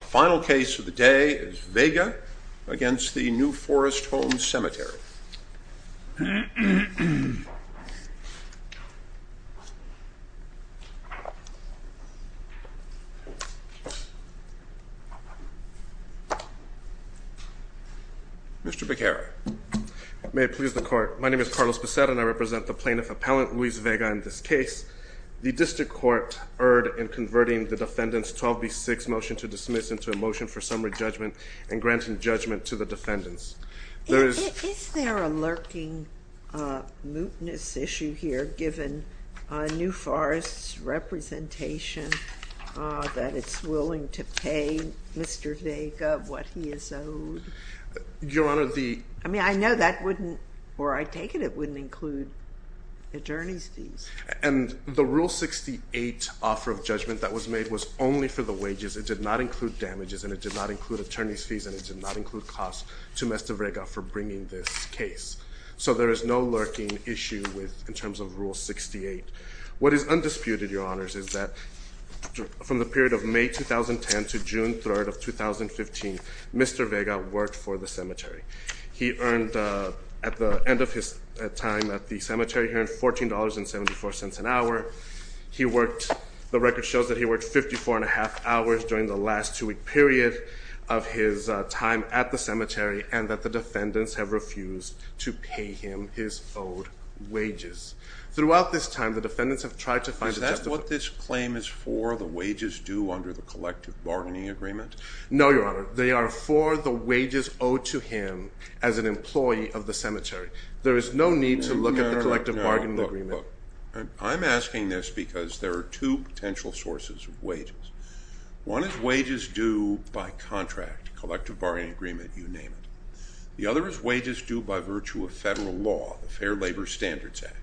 Final case of the day is Vega v. New Forest Home Cemetery Mr. Beccara May it please the court. My name is Carlos Becerra and I represent the plaintiff appellant, Luis Vega, in this case. The district court erred in converting the defendant's 12B6 motion to dismiss into a motion for summary judgment and granting judgment to the defendants. Is there a lurking mootness issue here given New Forest's representation that it's willing to pay Mr. Vega what he is owed? Your Honor, the I mean, I know that wouldn't, or I take it it wouldn't include attorney's fees. And the Rule 68 offer of judgment that was made was only for the wages. It did not include damages, and it did not include attorney's fees, and it did not include costs to Mr. Vega for bringing this case. So there is no lurking issue with, in terms of Rule 68. What is undisputed, Your Honors, is that from the period of May 2010 to June 3rd of 2015, Mr. Vega worked for the cemetery. He earned, at the end of his time at the cemetery, he earned $14.74 an hour. He worked, the record shows that he worked 54 and a half hours during the last two week period of his time at the cemetery. And that the defendants have refused to pay him his owed wages. Throughout this time, the defendants have tried to find- Is that what this claim is for, the wages due under the collective bargaining agreement? No, Your Honor, they are for the wages owed to him as an employee of the cemetery. There is no need to look at the collective bargaining agreement. I'm asking this because there are two potential sources of wages. One is wages due by contract, collective bargaining agreement, you name it. The other is wages due by virtue of federal law, the Fair Labor Standards Act.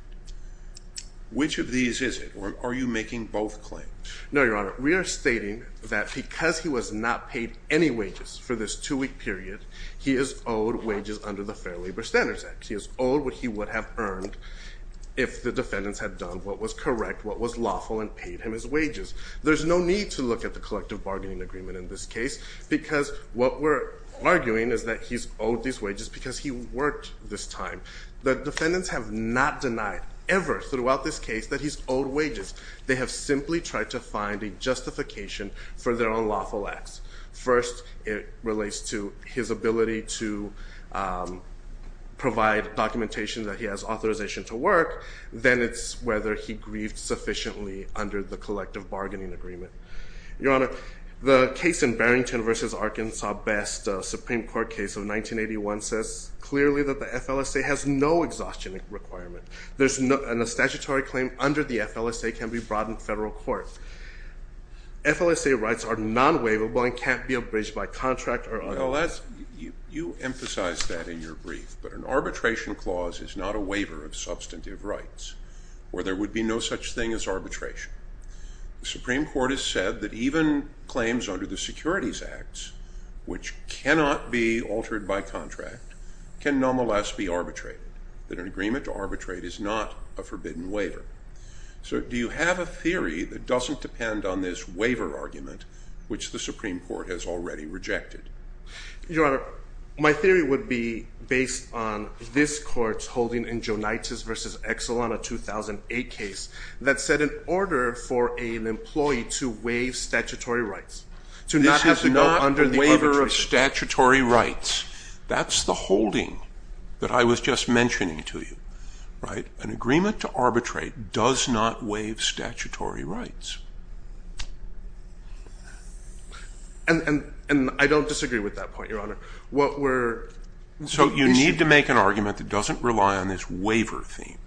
Which of these is it, or are you making both claims? No, Your Honor, we are stating that because he was not paid any wages for this two week period. He is owed wages under the Fair Labor Standards Act. He is owed what he would have earned if the defendants had done what was correct, what was lawful, and paid him his wages. There's no need to look at the collective bargaining agreement in this case because what we're arguing is that he's owed these wages because he worked this time. The defendants have not denied ever throughout this case that he's owed wages. They have simply tried to find a justification for their unlawful acts. First, it relates to his ability to provide documentation that he has authorization to work. Then it's whether he grieved sufficiently under the collective bargaining agreement. Your Honor, the case in Barrington versus Arkansas Best Supreme Court case of 1981 says clearly that the FLSA has no exhaustion requirement. There's no, and a statutory claim under the FLSA can be brought in federal court. FLSA rights are non-waivable and can't be abridged by contract or other. You emphasize that in your brief, but an arbitration clause is not a waiver of substantive rights, or there would be no such thing as arbitration. The Supreme Court has said that even claims under the Securities Acts, which cannot be altered by contract, can nonetheless be arbitrated. That an agreement to arbitrate is not a forbidden waiver. So do you have a theory that doesn't depend on this waiver argument, which the Supreme Court has already rejected? Your Honor, my theory would be based on this court's holding in Joneitis versus Exelon, a 2008 case, that said in order for an employee to waive statutory rights, to not have to go under the arbitration- This is not a waiver of statutory rights. That's the holding that I was just mentioning to you, right? An agreement to arbitrate does not waive statutory rights. And I don't disagree with that point, Your Honor. What we're- So you need to make an argument that doesn't rely on this waiver theme.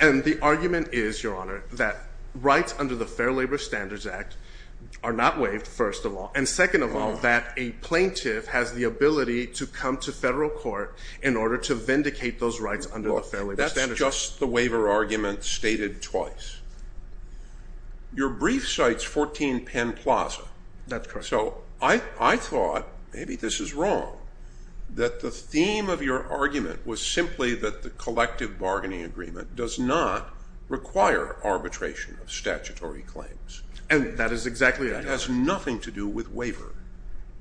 And the argument is, Your Honor, that rights under the Fair Labor Standards Act are not waived, first of all. And second of all, that a plaintiff has the ability to come to federal court in order to vindicate those rights under the Fair Labor Standards Act. That's just the waiver argument stated twice. Your brief cites 14 Penn Plaza. That's correct. I thought, maybe this is wrong, that the theme of your argument was simply that the collective bargaining agreement does not require arbitration of statutory claims. And that is exactly- It has nothing to do with waiver.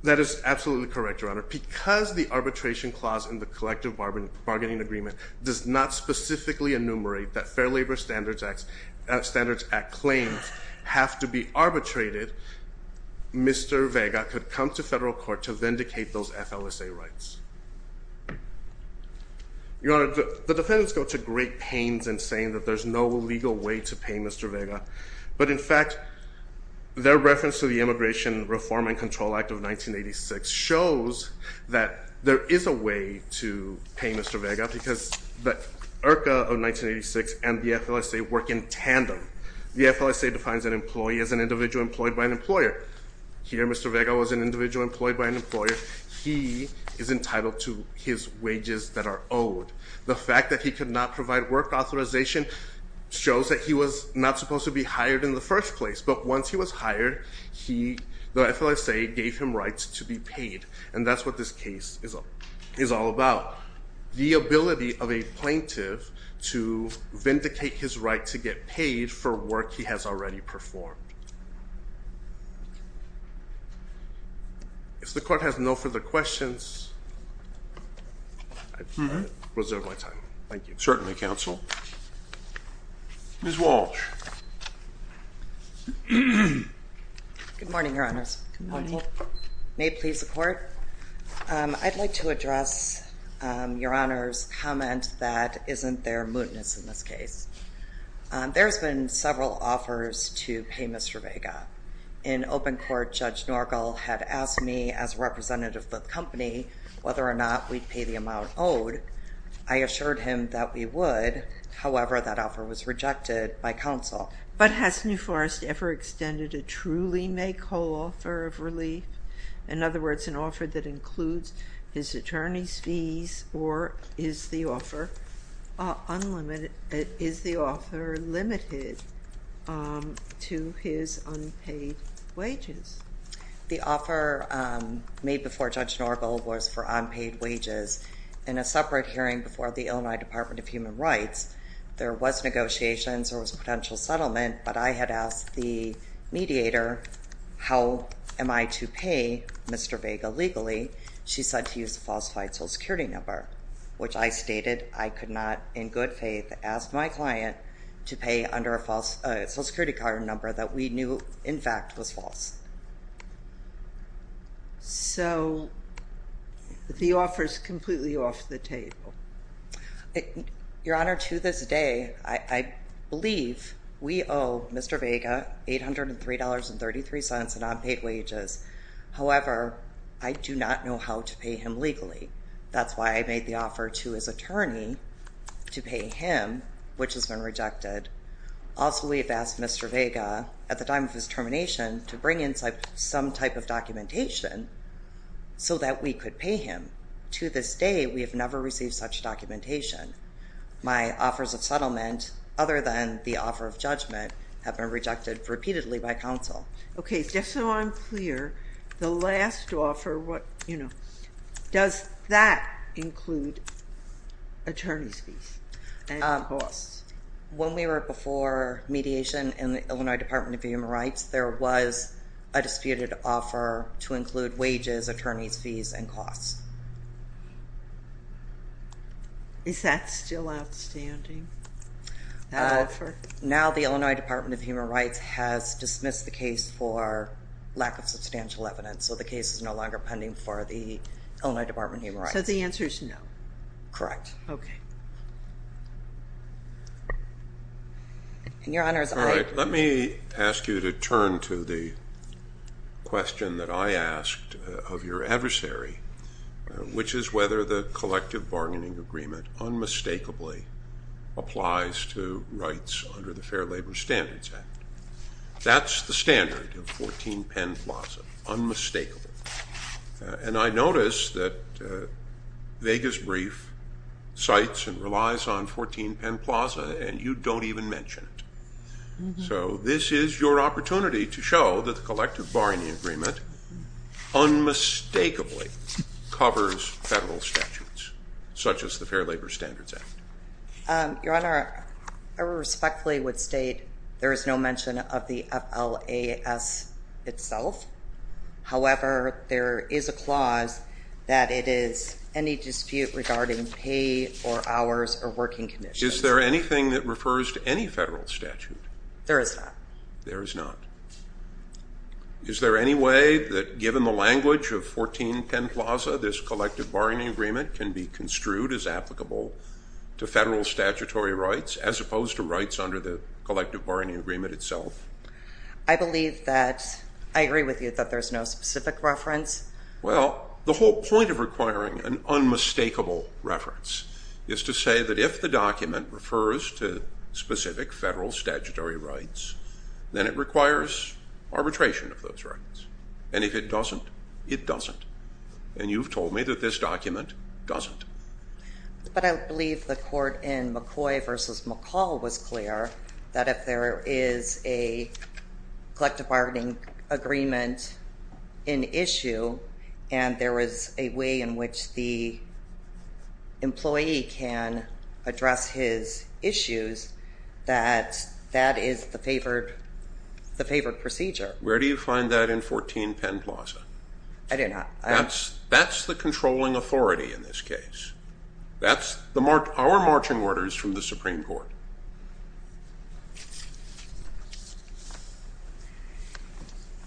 That is absolutely correct, Your Honor. Because the arbitration clause in the collective bargaining agreement does not specifically enumerate that Fair Labor Standards Act claims have to be arbitrated. Mr. Vega could come to federal court to vindicate those FLSA rights. Your Honor, the defendants go to great pains in saying that there's no legal way to pay Mr. Vega. But in fact, their reference to the Immigration Reform and Control Act of 1986 shows that there is a way to pay Mr. Vega because the IRCA of 1986 and the FLSA work in tandem. The FLSA defines an employee as an individual employed by an employer. Here, Mr. Vega was an individual employed by an employer. He is entitled to his wages that are owed. The fact that he could not provide work authorization shows that he was not supposed to be hired in the first place. But once he was hired, the FLSA gave him rights to be paid. And that's what this case is all about. The ability of a plaintiff to vindicate his right to get paid for work he has already performed. If the court has no further questions, I reserve my time. Thank you. Certainly, counsel. Ms. Walsh. Good morning, Your Honors. Good morning. May it please the court. I'd like to address Your Honor's comment that isn't there mootness in this case. There's been several offers to pay Mr. Vega. In open court, Judge Norgal had asked me as a representative of the company whether or not we'd pay the amount owed. I assured him that we would. However, that offer was rejected by counsel. But has New Forest ever extended a truly make whole offer of relief? In other words, an offer that includes his attorney's fees or is the offer unlimited, is the offer limited to his unpaid wages? The offer made before Judge Norgal was for unpaid wages. In a separate hearing before the Illinois Department of Human Rights, there was negotiations, there was potential settlement. But I had asked the mediator, how am I to pay Mr. Vega legally? She said to use a falsified social security number, which I stated I could not, in good faith, ask my client to pay under a false social security card number that we knew, in fact, was false. So, the offer's completely off the table. Your Honor, to this day, I believe we owe Mr. Vega $803.33 in unpaid wages. However, I do not know how to pay him legally. That's why I made the offer to his attorney to pay him, which has been rejected. Also, we have asked Mr. Vega, at the time of his termination, to bring in some type of documentation so that we could pay him. To this day, we have never received such documentation. My offers of settlement, other than the offer of judgment, have been rejected repeatedly by counsel. Okay, just so I'm clear, the last offer, does that include attorney's fees and costs? When we were before mediation in the Illinois Department of Human Rights, there was a disputed offer to include wages, attorney's fees, and costs. Now, the Illinois Department of Human Rights has dismissed the case for lack of substantial evidence. So, the case is no longer pending for the Illinois Department of Human Rights. So, the answer is no? Correct. Okay. Your Honor, as I- All right, let me ask you to turn to the question that I asked of your adversary, which is whether the collective bargaining agreement unmistakably applies to rights under the Fair Labor Standards Act. That's the standard of 14 Penn Plaza, unmistakably. And I notice that Vega's brief cites and relies on 14 Penn Plaza, and you don't even mention it. So, this is your opportunity to show that the collective bargaining agreement unmistakably covers federal statutes, such as the Fair Labor Standards Act. Your Honor, I respectfully would state there is no mention of the FLAS itself. However, there is a clause that it is any dispute regarding pay or hours or working conditions. Is there anything that refers to any federal statute? There is not. There is not. Is there any way that given the language of 14 Penn Plaza, this collective bargaining agreement can be construed as applicable to federal statutory rights as opposed to rights under the collective bargaining agreement itself? I believe that, I agree with you that there's no specific reference. Well, the whole point of requiring an unmistakable reference is to say that if the document refers to specific federal statutory rights, then it requires arbitration of those rights. And if it doesn't, it doesn't. And you've told me that this document doesn't. But I believe the court in McCoy versus McCall was clear that if there is a collective bargaining agreement in issue, and there is a way in which the employee can address his issues, that that is the favored procedure. Where do you find that in 14 Penn Plaza? I do not. That's the controlling authority in this case. That's our marching orders from the Supreme Court.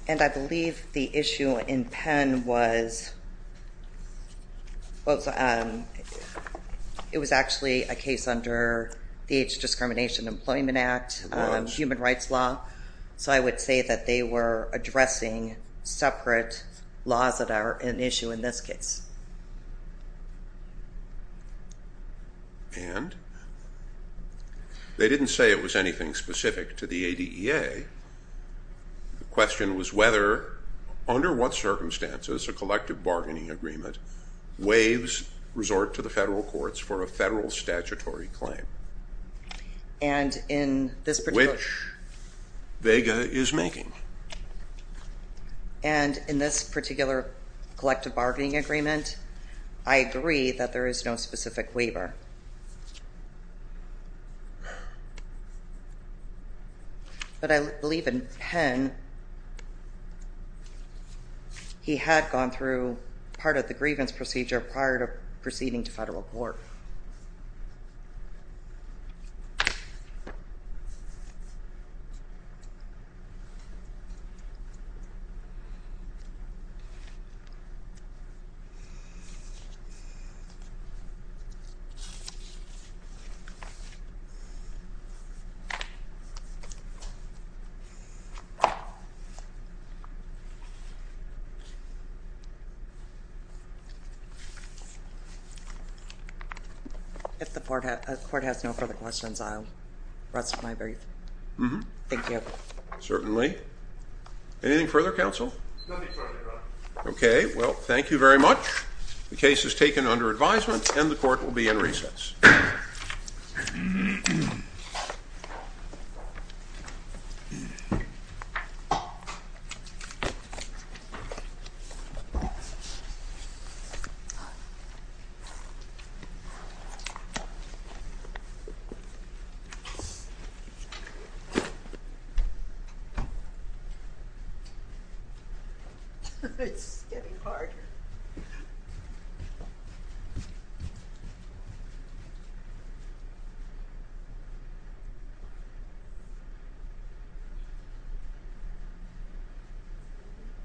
And I believe the issue in Penn was, it was actually a case under the Age of Discrimination Employment Act, human rights law. So I would say that they were addressing separate laws that are an issue in this case. And they didn't say it was anything specific to the ADEA. The question was whether, under what circumstances, a collective bargaining agreement waives resort to the federal courts for a federal statutory claim. And in this particular... Which Vega is making. And in this particular collective bargaining agreement, I agree that there is no specific waiver. But I believe in Penn, he had gone through part of the grievance procedure prior to proceeding to federal court. If the court has no further questions, I'll rest my brief. Thank you. Certainly. Anything further, counsel? Nothing further, Your Honor. Okay, well, thank you very much. The case is taken under advisement, and the court will be in recess. It's getting hard.